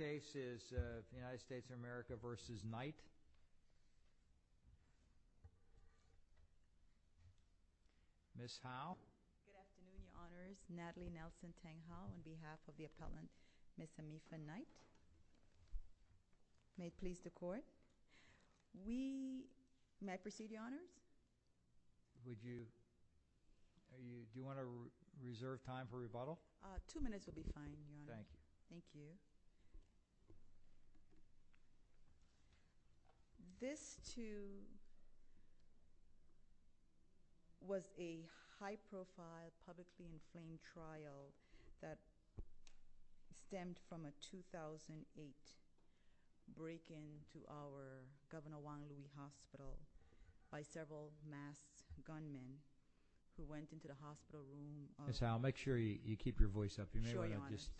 Ms. Howell Good afternoon Your Honors, Natalie Nelson Tang Howell on behalf of the appellant Ms. Amika Knight May it please the court We may proceed Your Honors Would you, do you want to reserve time for rebuttal? Two minutes would be fine Your Honors Thank you Thank you This too was a high profile publicly inflamed trial that stemmed from a 2008 break-in to our Governor Juan Luis Hospital by several masked gunmen who went into the hospital room of Ms. Howell make sure you keep your voice up Sure Your Honors You may want to just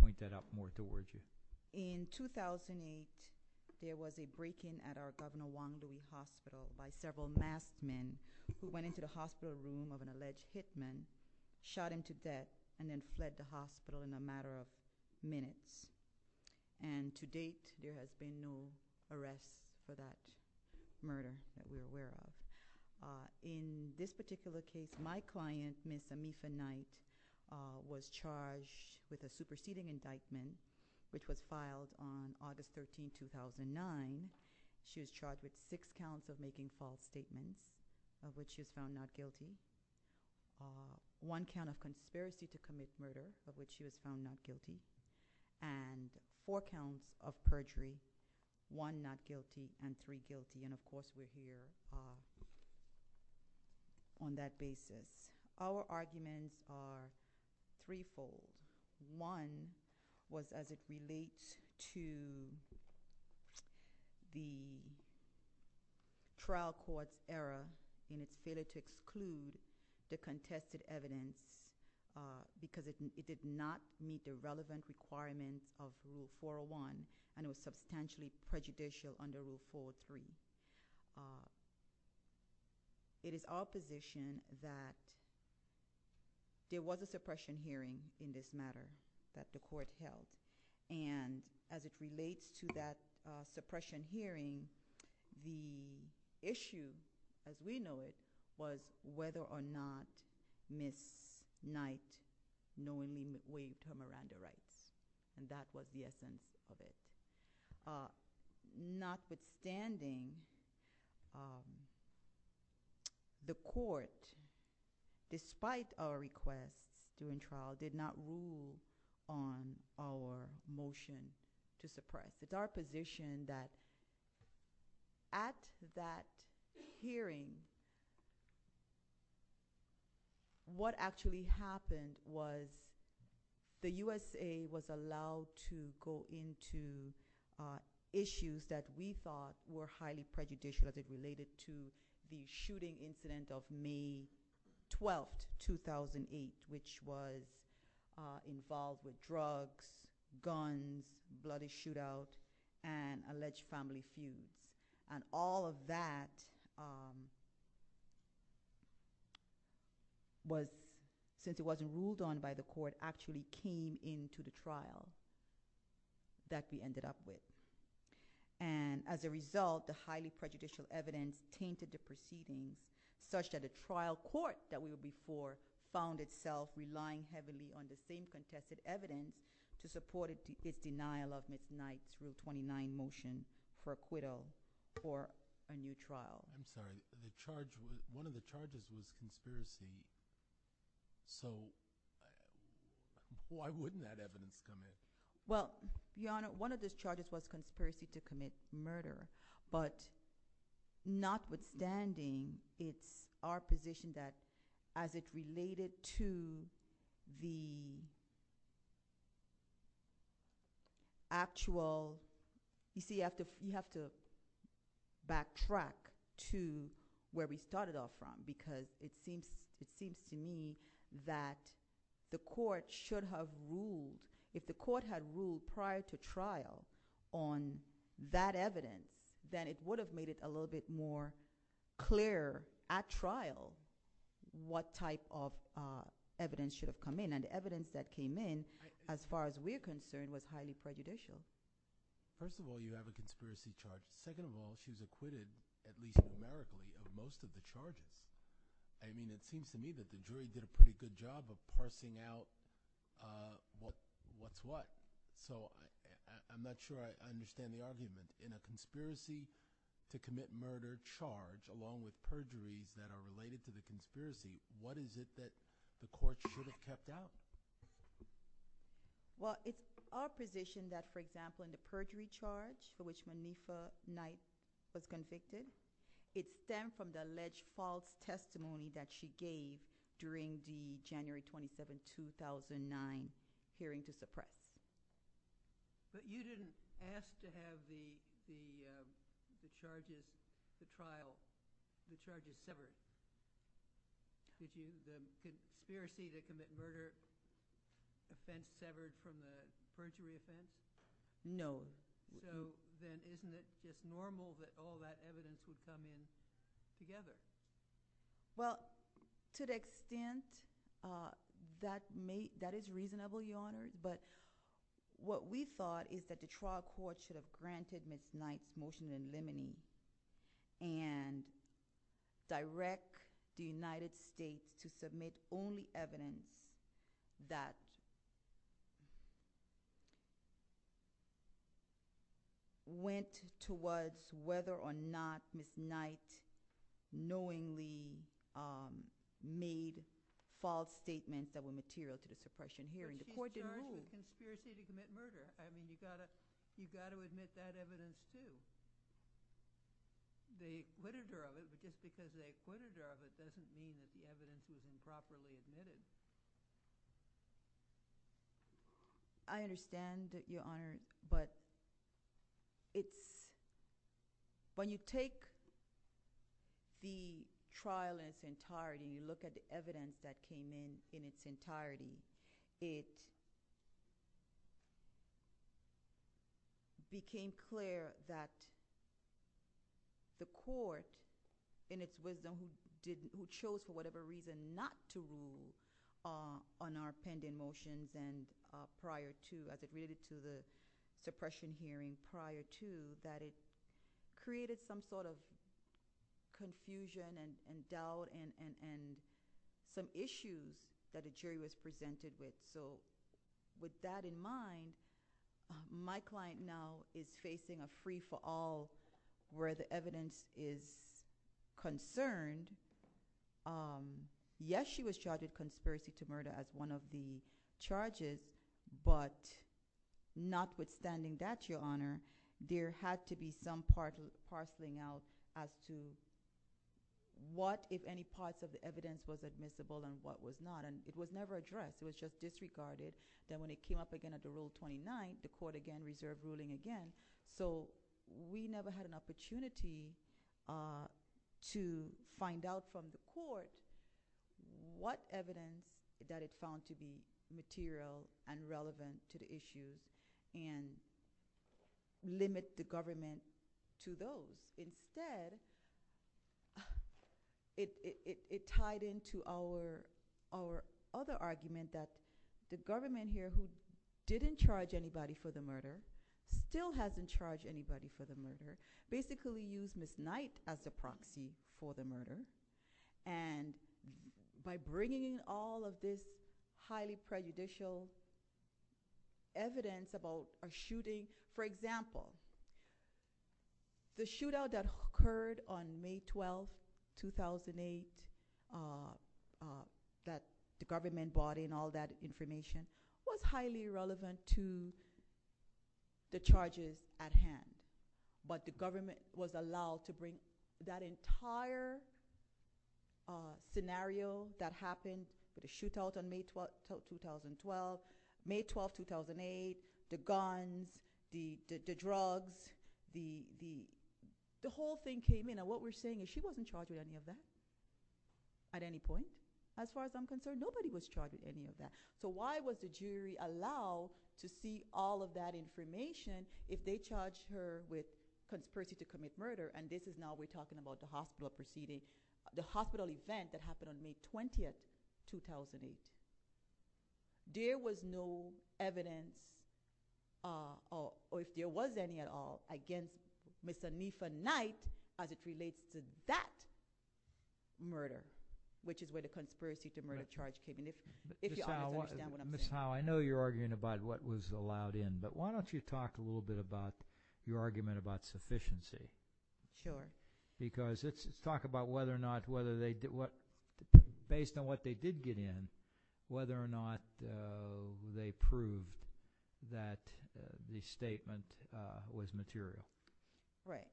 point that out more towards you In 2008 there was a break-in at our Governor Juan Luis Hospital by several masked men who went into the hospital room of an alleged hitman, shot him to death and then fled the hospital in a matter of minutes And to date there has been no arrests for that murder that we are aware of In this particular case my client Ms. Amika Knight was charged with a superseding indictment which was filed on August 13, 2009 She was charged with six counts of making false statements of which she was found not guilty One count of conspiracy to commit murder of which she was found not guilty And four counts of perjury, one not guilty and three guilty and of course we are here on that basis Our arguments are three-fold. One was as it relates to the trial court's error in its failure to exclude the contested evidence because it did not meet the relevant requirements of Rule 401 and it was substantially prejudicial under Rule 403 It is our position that there was a suppression hearing in this matter that the court held and as it relates to that suppression hearing the issue as we know it was whether or not Ms. Knight knowingly waived her Miranda rights and that was the essence of it Notwithstanding, the court despite our requests during trial did not rule on our motion to suppress It is our position that at that hearing what actually happened was the USA was allowed to go into issues that we thought were highly prejudicial as it related to the shooting incident of May 12, 2008 which was involved with drugs, guns, bloody shootout and alleged family feuds and all of that since it wasn't ruled on by the court actually came into the trial that we ended up with and as a result the highly prejudicial evidence tainted the proceedings such that the trial court that we were before found itself relying heavily on the same contested evidence to support its denial of Ms. Knight's Rule 29 motion for acquittal for a new trial I'm sorry, one of the charges was conspiracy so why wouldn't that evidence come in? Well, Your Honor, one of those charges was conspiracy to commit murder but notwithstanding it's our position that as it related to the actual You see, you have to backtrack to where we started off from because it seems to me that the court should have ruled, if the court had ruled prior to trial on that evidence then it would have made it a little bit more clear at trial what type of evidence should have come in and the evidence that came in as far as we're concerned was highly prejudicial First of all you have a conspiracy charge, second of all she was acquitted at least numerically of most of the charges I mean it seems to me that the jury did a pretty good job of parsing out what's what So I'm not sure I understand the argument. In a conspiracy to commit murder charge along with perjuries that are related to the conspiracy, what is it that the court should have kept out? Well, it's our position that for example in the perjury charge for which Manifa Knight was convicted, it stemmed from the alleged false testimony that she gave during the January 27, 2009 hearing to suppress But you didn't ask to have the charges severed? The conspiracy to commit murder offense severed from the perjury offense? No So then isn't it just normal that all that evidence would come in together? Well, to the extent that is reasonable, Your Honor, but what we thought is that the trial court should have granted Ms. Knight's motion in limine and direct the United States to submit only evidence that went towards whether or not Ms. Knight knowingly made false statements that were material to the suppression hearing. The court didn't move I mean, you've got to admit that evidence too. The acquitted her of it, but just because they acquitted her of it doesn't mean that the evidence is improperly admitted I understand, Your Honor, but when you take the trial in its entirety, you look at the evidence that came in in its entirety, it became clear that the court in its wisdom who chose for whatever reason not to rule on our pending motions and prior to, as it related to the suppression hearing prior to, that it created some sort of confusion and doubt and some issues that the jury was presented with So with that in mind, my client now is facing a free-for-all where the evidence is concerned. Yes, she was charged with conspiracy to murder as one of the charges, but notwithstanding that, Your Honor, there had to be some parceling out as to what, if any, parts of the evidence was admissible and what was not, and it was never addressed. It was just disregarded. Then when it came up again at the Rule 29, the court again reserved ruling again, so we never had an opportunity to find out from the court what evidence that it found to be material and relevant to the issue and limit the government to those. Instead, it tied into our other argument that the government here, who didn't charge anybody for the murder, still hasn't charged anybody for the murder, basically used Ms. Knight as the proxy for the murder, and by bringing in all of this highly prejudicial evidence about a shooting, for example, the shootout that occurred on May 12, 2008, that the government brought in all that information, was highly relevant to the charges at hand, but the government was allowed to bring that entire scenario that happened, the shooting, the shootout on May 12, 2012, May 12, 2008, the guns, the drugs, the whole thing came in, and what we're saying is she wasn't charged with any of that at any point, as far as I'm concerned. Nobody was charged with any of that. So why was the jury allowed to see all of that information if they charged her with conspiracy to commit murder, and this is now we're talking about the hospital proceeding, the hospital event that happened on May 20, 2008. There was no evidence, or if there was any at all, against Mr. NIFA Knight as it relates to that murder, which is where the conspiracy to murder charge came in. Ms. Howell, I know you're arguing about what was allowed in, but why don't you talk a little bit about your argument about sufficiency, because it's talking about whether or not, based on what they did get in, whether or not they proved that the statement was material. Right.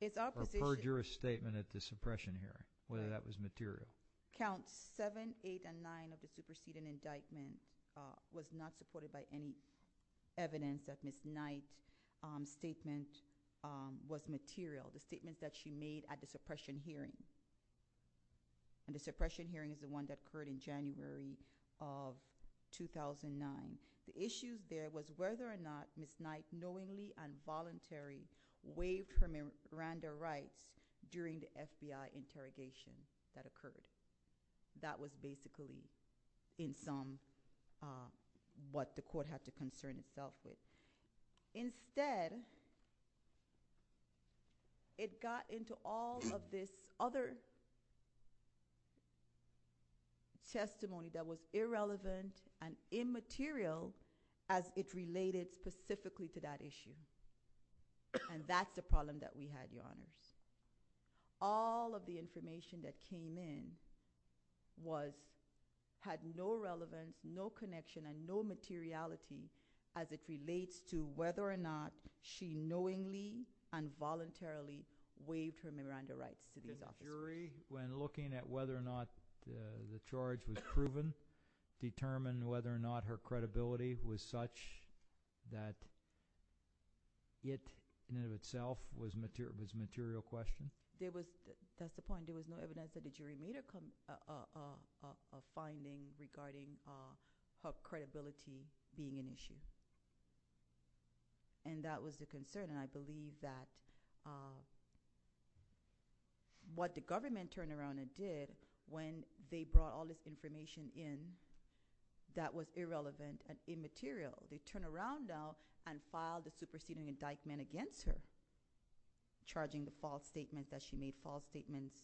It's our position- Or heard your statement at the suppression hearing, whether that was material. Counts 7, 8, and 9 of the superseding indictment was not supported by any evidence that Ms. Knight's statement was material, the statement that she made at the suppression hearing. And the suppression hearing is the one that occurred in January of 2009. The issue there was whether or not Ms. Knight knowingly and voluntarily waived her Miranda rights during the FBI interrogation that occurred. That was basically in sum what the court had to concern itself with. Instead, it got into all of this other testimony that was irrelevant and immaterial as it related specifically to that issue. And that's the problem that we had, your honors. All of the information that came in had no relevance, no connection, and no materiality as it relates to whether or not she knowingly and voluntarily waived her Miranda rights to these officers. Did the jury, when looking at whether or not the charge was proven, determine whether or not her credibility was such that it in and of itself was a material question? That's the point. There was no evidence that the jury made a finding regarding her credibility being an issue. And that was the concern. And I believe that what the government turned around and did when they brought all this information in that was irrelevant and immaterial, they turned around now and filed a superseding indictment against her, charging the false statement that she made, false statements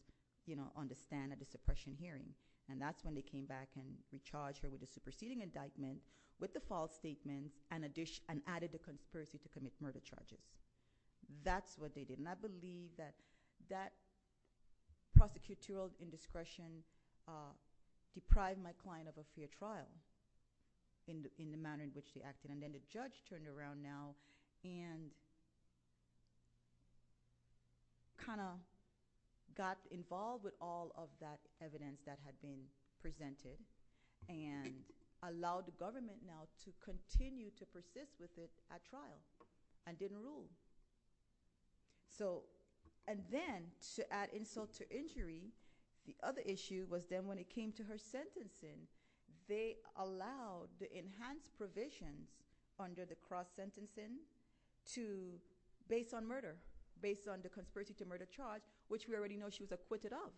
on the stand at the suppression hearing. And that's when they came back and recharged her with a superseding indictment with the false statement and added the conspiracy to commit murder charges. That's what they did. And I believe that that prosecutorial indiscretion deprived my client of a fair trial in the manner in which they acted. And then the judge turned around now and kind of got involved with all of that evidence that had been presented and allowed the government now to continue to persist with it at trial and didn't rule. And then to add insult to injury, the other issue was then when it came to her sentencing, they allowed the enhanced provisions under the cross-sentencing based on murder, based on the conspiracy to murder charge, which we already know she was acquitted of.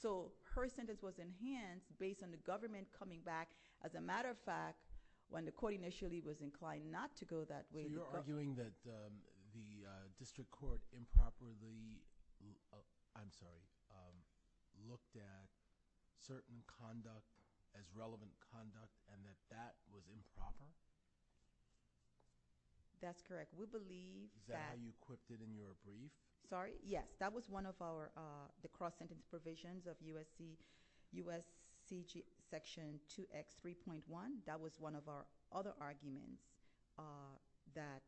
So her sentence was enhanced based on the government coming back. As a matter of fact, when the court initially was inclined not to go that way. So you're arguing that the district court improperly – I'm sorry – looked at certain conduct as relevant conduct and that that was improper? That's correct. We believe that – Is that how you equipped it in your brief? Sorry? Yes. That was one of the cross-sentencing provisions of USC Section 2X3.1. That was one of our other arguments that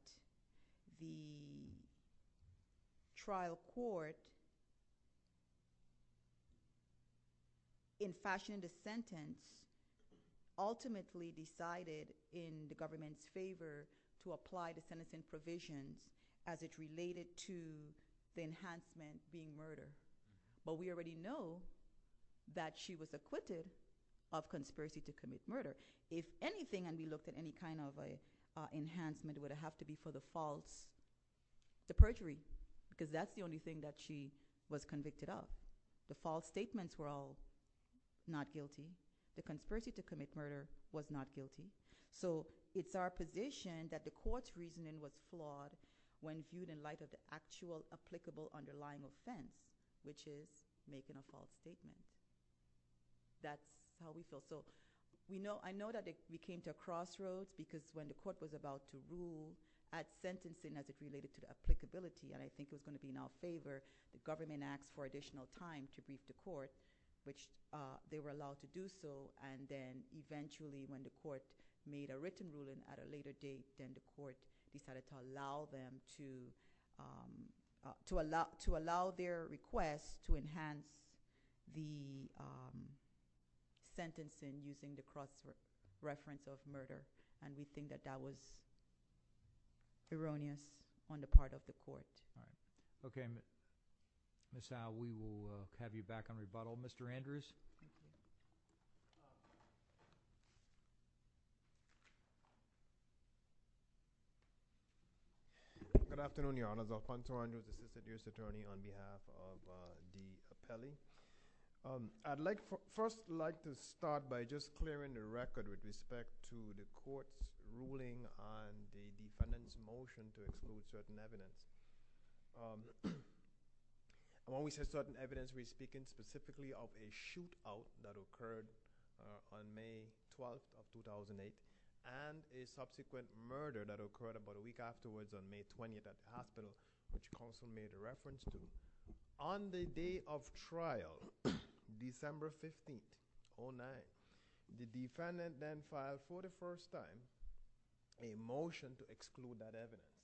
the trial court, in fashioning the sentence, ultimately decided in the government's favor to apply the sentencing provisions as it related to the enhancement being murder. But we already know that she was acquitted of conspiracy to commit murder. If anything, and we looked at any kind of enhancement, it would have to be for the false – the perjury. Because that's the only thing that she was convicted of. The false statements were all not guilty. The conspiracy to commit murder was not guilty. So it's our position that the court's reasoning was flawed when viewed in light of the actual applicable underlying offense, which is making a false statement. That's how we feel. So I know that we came to a crossroads because when the court was about to rule at sentencing as it related to the applicability, and I think it was going to be in our favor, the government asked for additional time to brief the court, which they were allowed to do so. And then eventually when the court made a written ruling at a later date, then the court decided to allow them to – to allow their request to enhance the sentencing using the cross-reference of murder. And we think that that was erroneous on the part of the court. Okay, Ms. Howell, we will have you back on rebuttal. Mr. Andrews? Good afternoon, Your Honors. Alphonso Andrews, Assistant Justice Attorney on behalf of the appellee. I'd first like to start by just clearing the record with respect to the court's ruling on the defendant's motion to exclude certain evidence. When we say certain evidence, we're speaking specifically of a shootout that occurred on May 12th of 2008 and a subsequent murder that occurred about a week afterwards on May 20th at the hospital, which counsel made a reference to. On the day of trial, December 15th, 2009, the defendant then filed, for the first time, a motion to exclude that evidence.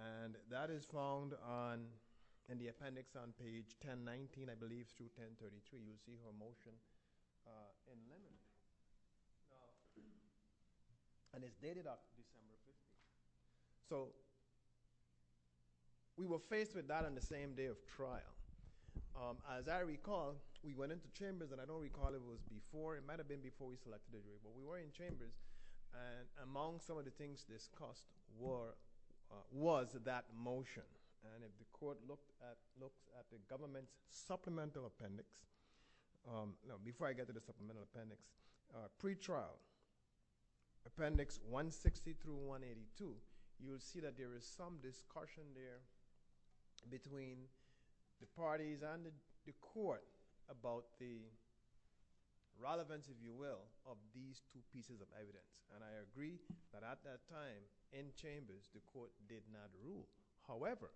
And that is found on – in the appendix on page 1019, I believe, through 1033. You'll see her motion in memory. And it's dated October 15th. So we were faced with that on the same day of trial. As I recall, we went into chambers, and I don't recall if it was before. It might have been before we selected the jury. But we were in chambers, and among some of the things discussed was that motion. And if the court looked at the government's supplemental appendix – you'll see that there is some discussion there between the parties and the court about the relevance, if you will, of these two pieces of evidence. And I agree that at that time, in chambers, the court did not rule. However,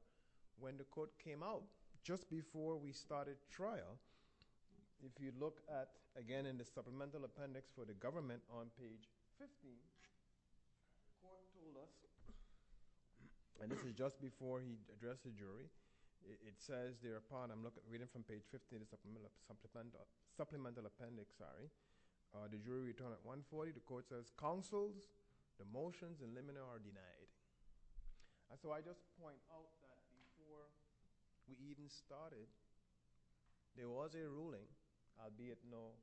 when the court came out, just before we started trial, if you look at, again, in the supplemental appendix for the government on page 15, the court told us – and this is just before he addressed the jury. It says thereupon – I'm reading from page 15 of the supplemental appendix, sorry. The jury returned at 140. The court says, counsels, the motions eliminated are denied. And so I just point out that before we even started, there was a ruling, albeit no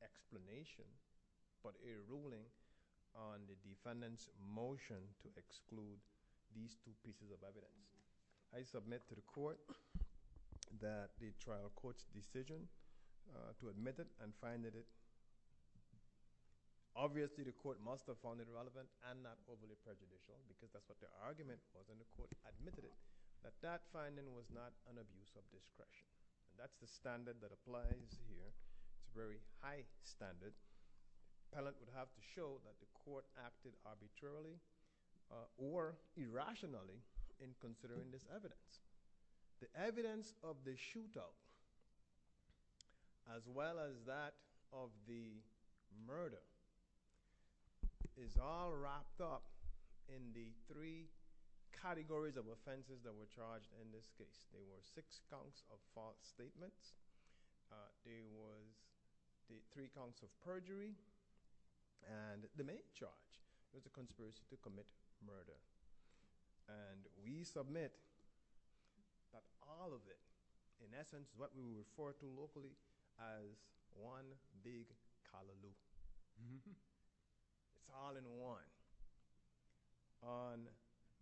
explanation, but a ruling on the defendant's motion to exclude these two pieces of evidence. I submit to the court that the trial court's decision to admit it and find that it – obviously, the court must have found it relevant and not overly prejudicial because that's what their argument was. And the court admitted it, that that finding was not an abuse of discretion. That's the standard that applies here. It's a very high standard. Appellant would have to show that the court acted arbitrarily or irrationally in considering this evidence. The evidence of the shootout, as well as that of the murder, is all wrapped up in the three categories of offenses that were charged in this case. There were six counts of false statements. There was three counts of perjury. And the main charge was a conspiracy to commit murder. And we submit that all of it, in essence, what we would refer to locally as one big callaloo. It's all in one. On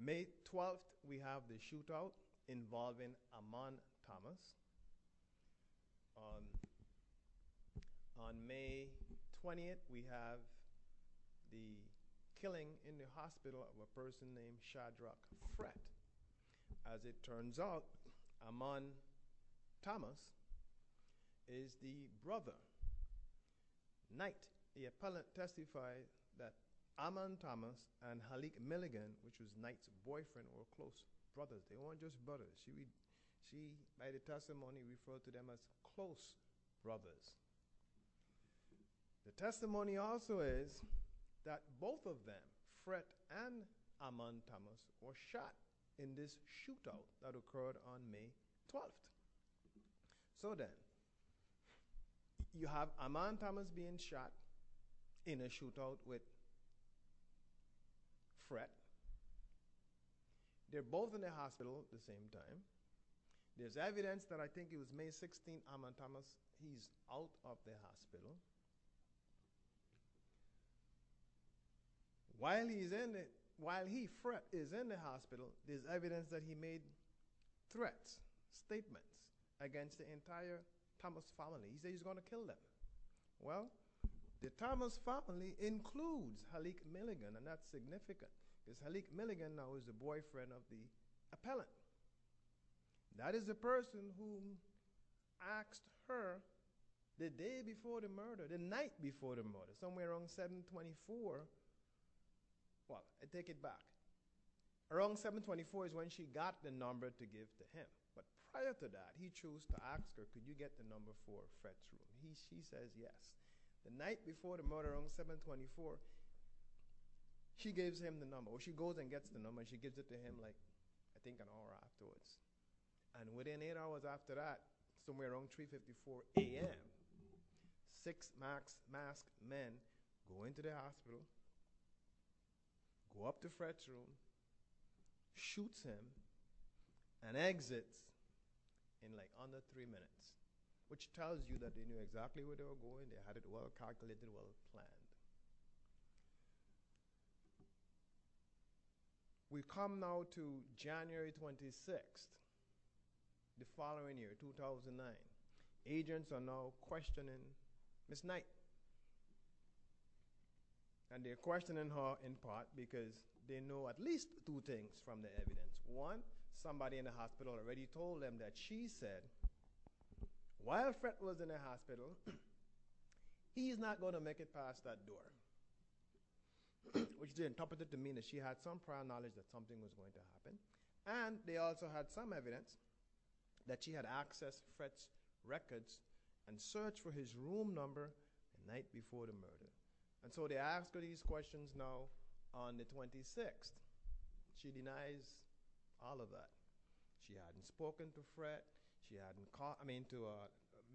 May 12th, we have the shootout involving Amon Thomas. On May 20th, we have the killing in the hospital of a person named Shadrach Kret. As it turns out, Amon Thomas is the brother, Knight. The appellant testified that Amon Thomas and Halik Milligan, which was Knight's boyfriend or close brother, they weren't just brothers. She, by the testimony, referred to them as close brothers. The testimony also is that both of them, Kret and Amon Thomas, were shot in this shootout that occurred on May 12th. So then, you have Amon Thomas being shot in a shootout with Kret. They're both in the hospital at the same time. There's evidence that I think it was May 16th, Amon Thomas, he's out of the hospital. While he is in the hospital, there's evidence that he made threats, statements, against the entire Thomas family. He said he was going to kill them. Well, the Thomas family includes Halik Milligan, and that's significant. Because Halik Milligan now is the boyfriend of the appellant. That is the person who asked her the day before the murder, the night before the murder, somewhere around 724. Well, I take it back. Around 724 is when she got the number to give to him. But prior to that, he chose to ask her, could you get the number for Kret? She says yes. The night before the murder, around 724, she gives him the number, or she goes and gets the number. She gives it to him, like, I think an hour afterwards. And within eight hours after that, somewhere around 3.54 a.m., six masked men go into the hospital, go up to Kret's room, shoot him, and exit in, like, under three minutes. Which tells you that they knew exactly where they were going. They had it well calculated, well planned. We come now to January 26th, the following year, 2009. Agents are now questioning Ms. Knight. And they're questioning her in part because they know at least two things from the evidence. One, somebody in the hospital already told them that she said, while Kret was in the hospital, he's not going to make it past that door. Which they interpreted to mean that she had some prior knowledge that something was going to happen. And they also had some evidence that she had accessed Kret's records and searched for his room number the night before the murder. And so they ask her these questions now on the 26th. She denies all of that. She hadn't spoken to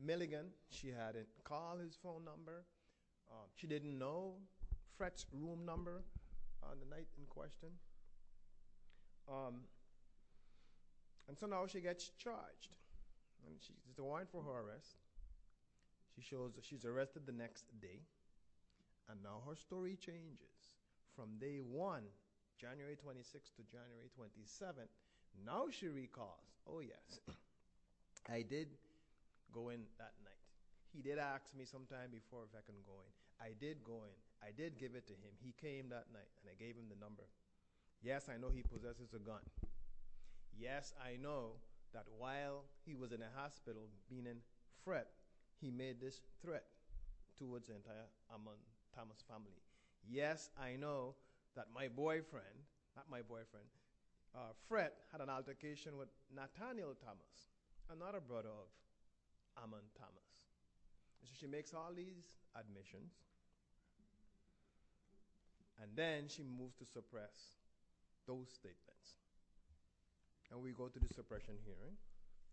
Milligan. She hadn't called his phone number. She didn't know Kret's room number on the night in question. And so now she gets charged. There's a warrant for her arrest. She shows that she's arrested the next day. And now her story changes from day one, January 26th to January 27th. Now she recalls, oh, yes, I did go in that night. He did ask me sometime before if I could go in. I did go in. I did give it to him. He came that night, and I gave him the number. Yes, I know he possesses a gun. Yes, I know that while he was in the hospital being in Kret, he made this threat towards the entire Amon Thomas family. Yes, I know that my boyfriend, not my boyfriend, Kret, had an altercation with Nathaniel Thomas, another brother of Amon Thomas. And so she makes all these admissions. And then she moves to suppress those statements. And we go to the suppression hearing.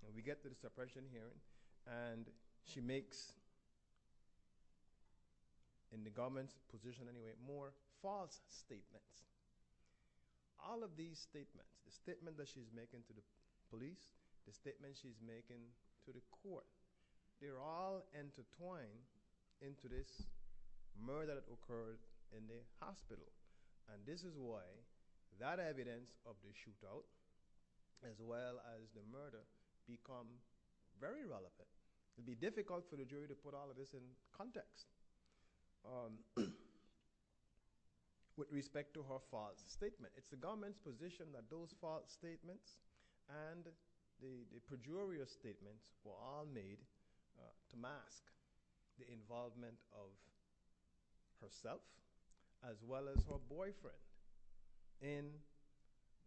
And we get to the suppression hearing. And she makes, in the government's position anyway, more false statements. All of these statements, the statement that she's making to the police, the statement she's making to the court, they're all intertwined into this murder that occurred in the hospital. And this is why that evidence of the shootout as well as the murder become very relevant. It would be difficult for the jury to put all of this in context with respect to her false statement. It's the government's position that those false statements and the pejorative statements were all made to mask the involvement of herself as well as her boyfriend in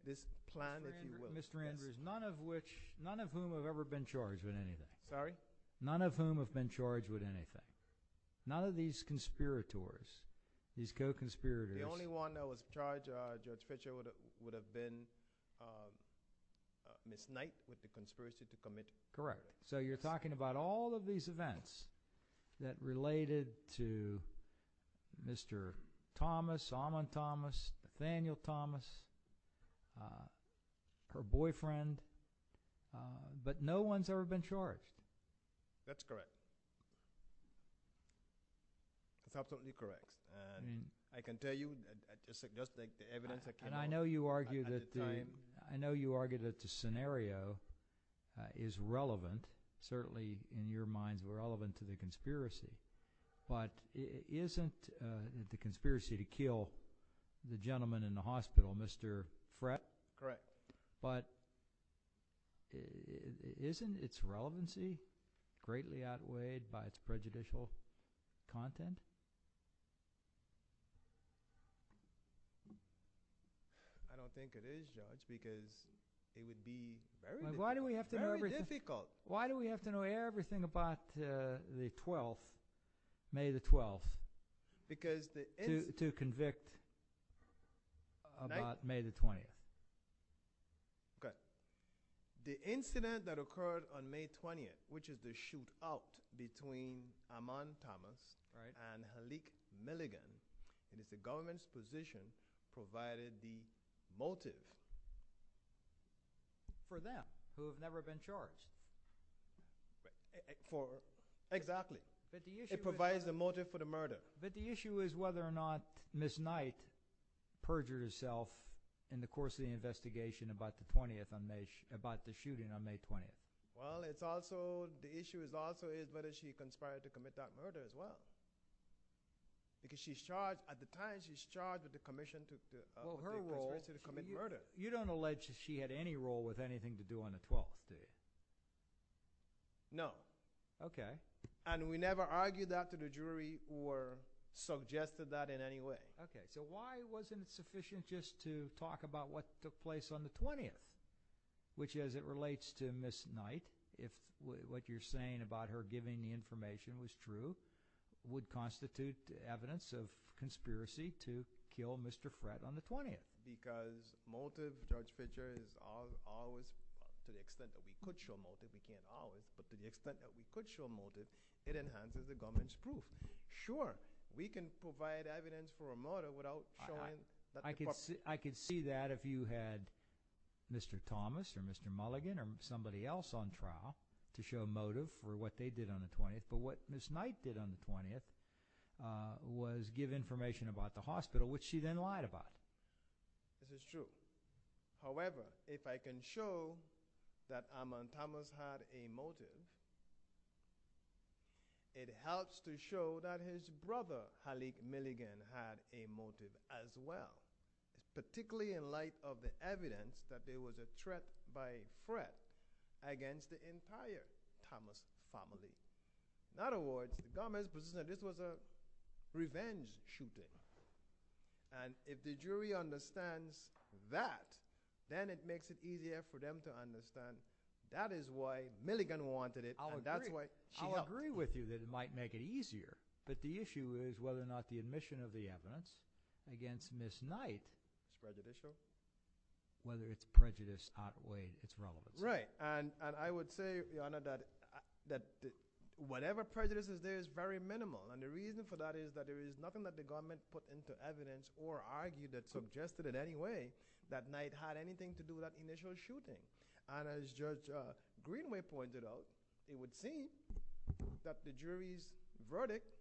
this plan, if you will. Mr. Andrews, none of whom have ever been charged with anything. Sorry? None of whom have been charged with anything. None of these conspirators, these co-conspirators. The only one that was charged, Judge Fischer, would have been Miss Knight with the conspiracy to commit murder. Correct. So you're talking about all of these events that related to Mr. Thomas, Amon Thomas, Nathaniel Thomas, her boyfriend, but no one's ever been charged. That's correct. That's absolutely correct. I can tell you just the evidence I can hold at the time. I know you argue that the scenario is relevant, certainly in your minds relevant to the conspiracy, but isn't the conspiracy to kill the gentleman in the hospital Mr. Frett? Correct. But isn't its relevancy greatly outweighed by its prejudicial content? I don't think it is, Judge, because it would be very difficult. Why do we have to know everything about the 12th, May the 12th, to convict about May the 20th? Okay. The incident that occurred on May 20th, which is the shootout between Amon Thomas and Halik Milligan, and it's the government's position provided the motive. For them, who have never been charged. Exactly. It provides the motive for the murder. But the issue is whether or not Miss Knight perjured herself in the course of the investigation about the shooting on May 20th. Well, the issue also is whether she conspired to commit that murder as well, because at the time she's charged with the conspiracy to commit murder. You don't allege that she had any role with anything to do on the 12th, do you? No. Okay. And we never argued that to the jury or suggested that in any way. Okay. So why wasn't it sufficient just to talk about what took place on the 20th, which as it relates to Miss Knight, if what you're saying about her giving the information was true, would constitute evidence of conspiracy to kill Mr. Frett on the 20th? Because motive, Judge Fischer, is always, to the extent that we could show motive, we can't always, but to the extent that we could show motive, it enhances the government's proof. We can provide evidence for a murder without showing that the purpose. I could see that if you had Mr. Thomas or Mr. Mulligan or somebody else on trial to show motive for what they did on the 20th, but what Miss Knight did on the 20th was give information about the hospital, which she then lied about. This is true. However, if I can show that Armand Thomas had a motive, it helps to show that his brother, Halik Mulligan, had a motive as well, particularly in light of the evidence that there was a threat by Frett against the entire Thomas family. In other words, the government's position that this was a revenge shooting, and if the jury understands that, then it makes it easier for them to understand that is why Mulligan wanted it, and that's why she helped. I'll agree with you that it might make it easier, but the issue is whether or not the admission of the evidence against Miss Knight is prejudicial, whether its prejudice outweighs its relevance. Right. And I would say, Your Honor, that whatever prejudice is there is very minimal, and the reason for that is that there is nothing that the government put into evidence or argued that suggested in any way that Knight had anything to do with that initial shooting. And as Judge Greenway pointed out, it would seem that the jury's verdict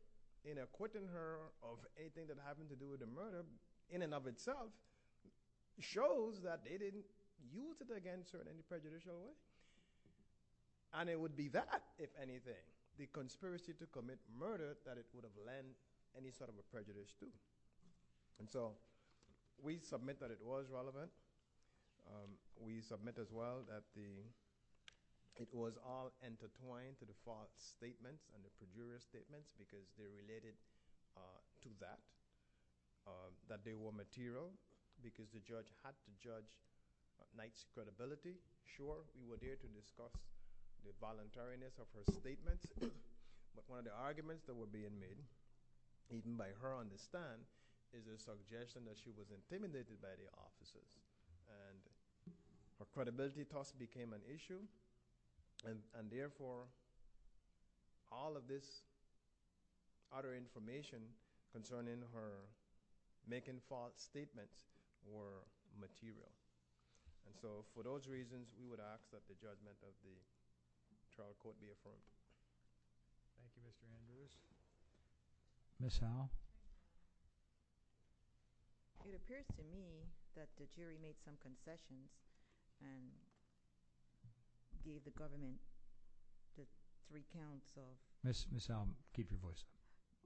in acquitting her of anything that happened to do with the murder in and of itself shows that they didn't use it against her in any prejudicial way. And it would be that, if anything, the conspiracy to commit murder, that it would have lent any sort of a prejudice to. And so we submit that it was relevant. We submit as well that it was all intertwined to the false statements and the peculiar statements because they related to that, that they were material because the judge had to judge Knight's credibility. Sure, we were there to discuss the voluntariness of her statements, but one of the arguments that were being made, even by her on the stand, is a suggestion that she was intimidated by the officers. And her credibility toss became an issue, and therefore all of this utter information concerning her making false statements were material. And so for those reasons, we would ask that the judgment of the trial court be affirmed. Thank you, Mr. Andrews. Ms. Howell? It appears to me that the jury made some concessions and gave the government the three counts of— Ms. Howell, keep your voice.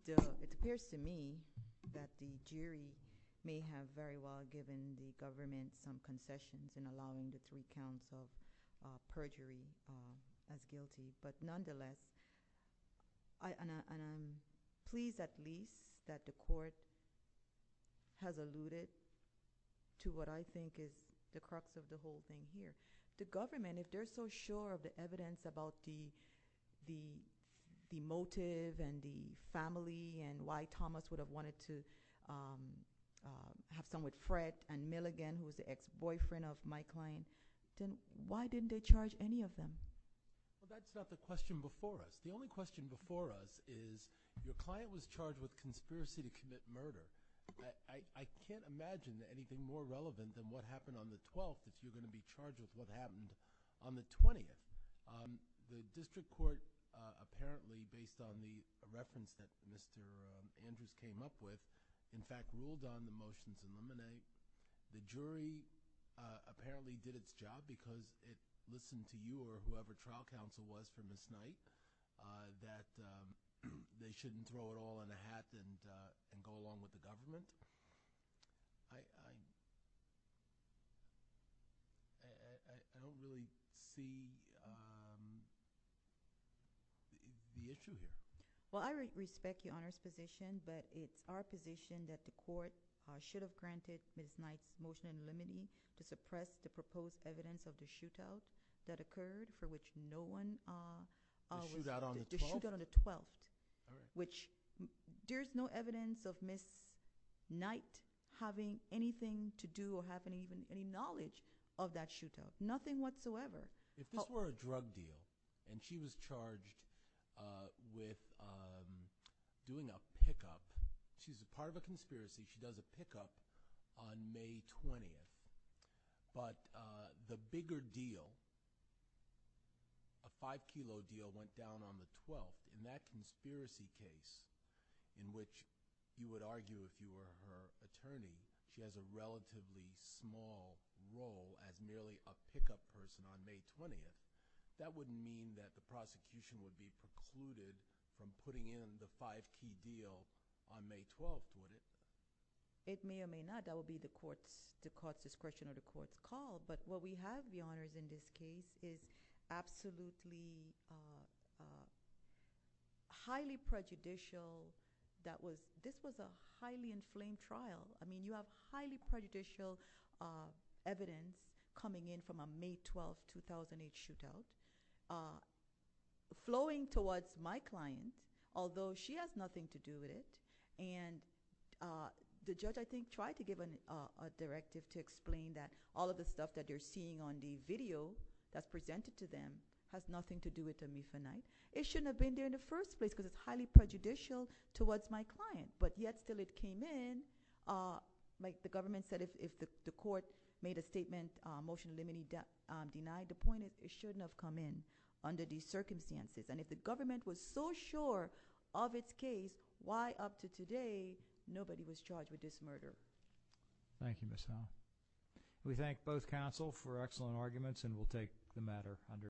It appears to me that the jury may have very well given the government some concessions in allowing the three counts of perjury as guilty, but nonetheless, and I'm pleased at least that the court has alluded to what I think is the crux of the whole thing here. The government, if they're so sure of the evidence about the motive and the family and why Thomas would have wanted to have some with Fred and Milligan, who was the ex-boyfriend of my client, then why didn't they charge any of them? Well, that's not the question before us. The only question before us is your client was charged with conspiracy to commit murder. I can't imagine anything more relevant than what happened on the 12th if you're going to be charged with what happened on the 20th. The district court apparently, based on the reference that Mr. Andrews came up with, in fact, ruled on the motion to eliminate. The jury apparently did its job because it listened to you or whoever trial counsel was from this night that they shouldn't throw it all in a hat and go along with the government. I don't really see the issue here. Well, I respect Your Honor's position, but it's our position that the court should have granted Ms. Knight's motion in limine to suppress the proposed evidence of the shootout that occurred for which no one… The shootout on the 12th? The shootout on the 12th, which there's no evidence of Ms. Knight having anything to do or have any knowledge of that shootout, nothing whatsoever. If this were a drug deal and she was charged with doing a pickup, she's a part of a conspiracy. She does a pickup on May 20th. But the bigger deal, a 5-kilo deal went down on the 12th. In that conspiracy case in which you would argue if you were her attorney, she has a relatively small role as merely a pickup person on May 20th, that wouldn't mean that the prosecution would be precluded from putting in the 5-kilo deal on May 12th, would it? It may or may not. That would be the court's discretion or the court's call. But what we have, Your Honors, in this case is absolutely highly prejudicial. This was a highly inflamed trial. I mean, you have highly prejudicial evidence coming in from a May 12, 2008 shootout flowing towards my client, although she has nothing to do with it. And the judge, I think, tried to give a directive to explain that all of the stuff that you're seeing on the video that's presented to them has nothing to do with Amifa Knight. It shouldn't have been there in the first place because it's highly prejudicial towards my client. But yet still it came in. Like the government said, if the court made a statement, motion limiting denied, the point is it shouldn't have come in under these circumstances. And if the government was so sure of its case, why up to today nobody was charged with this murder? Thank you, Ms. Howell. We thank both counsel for excellent arguments, and we'll take the matter under review.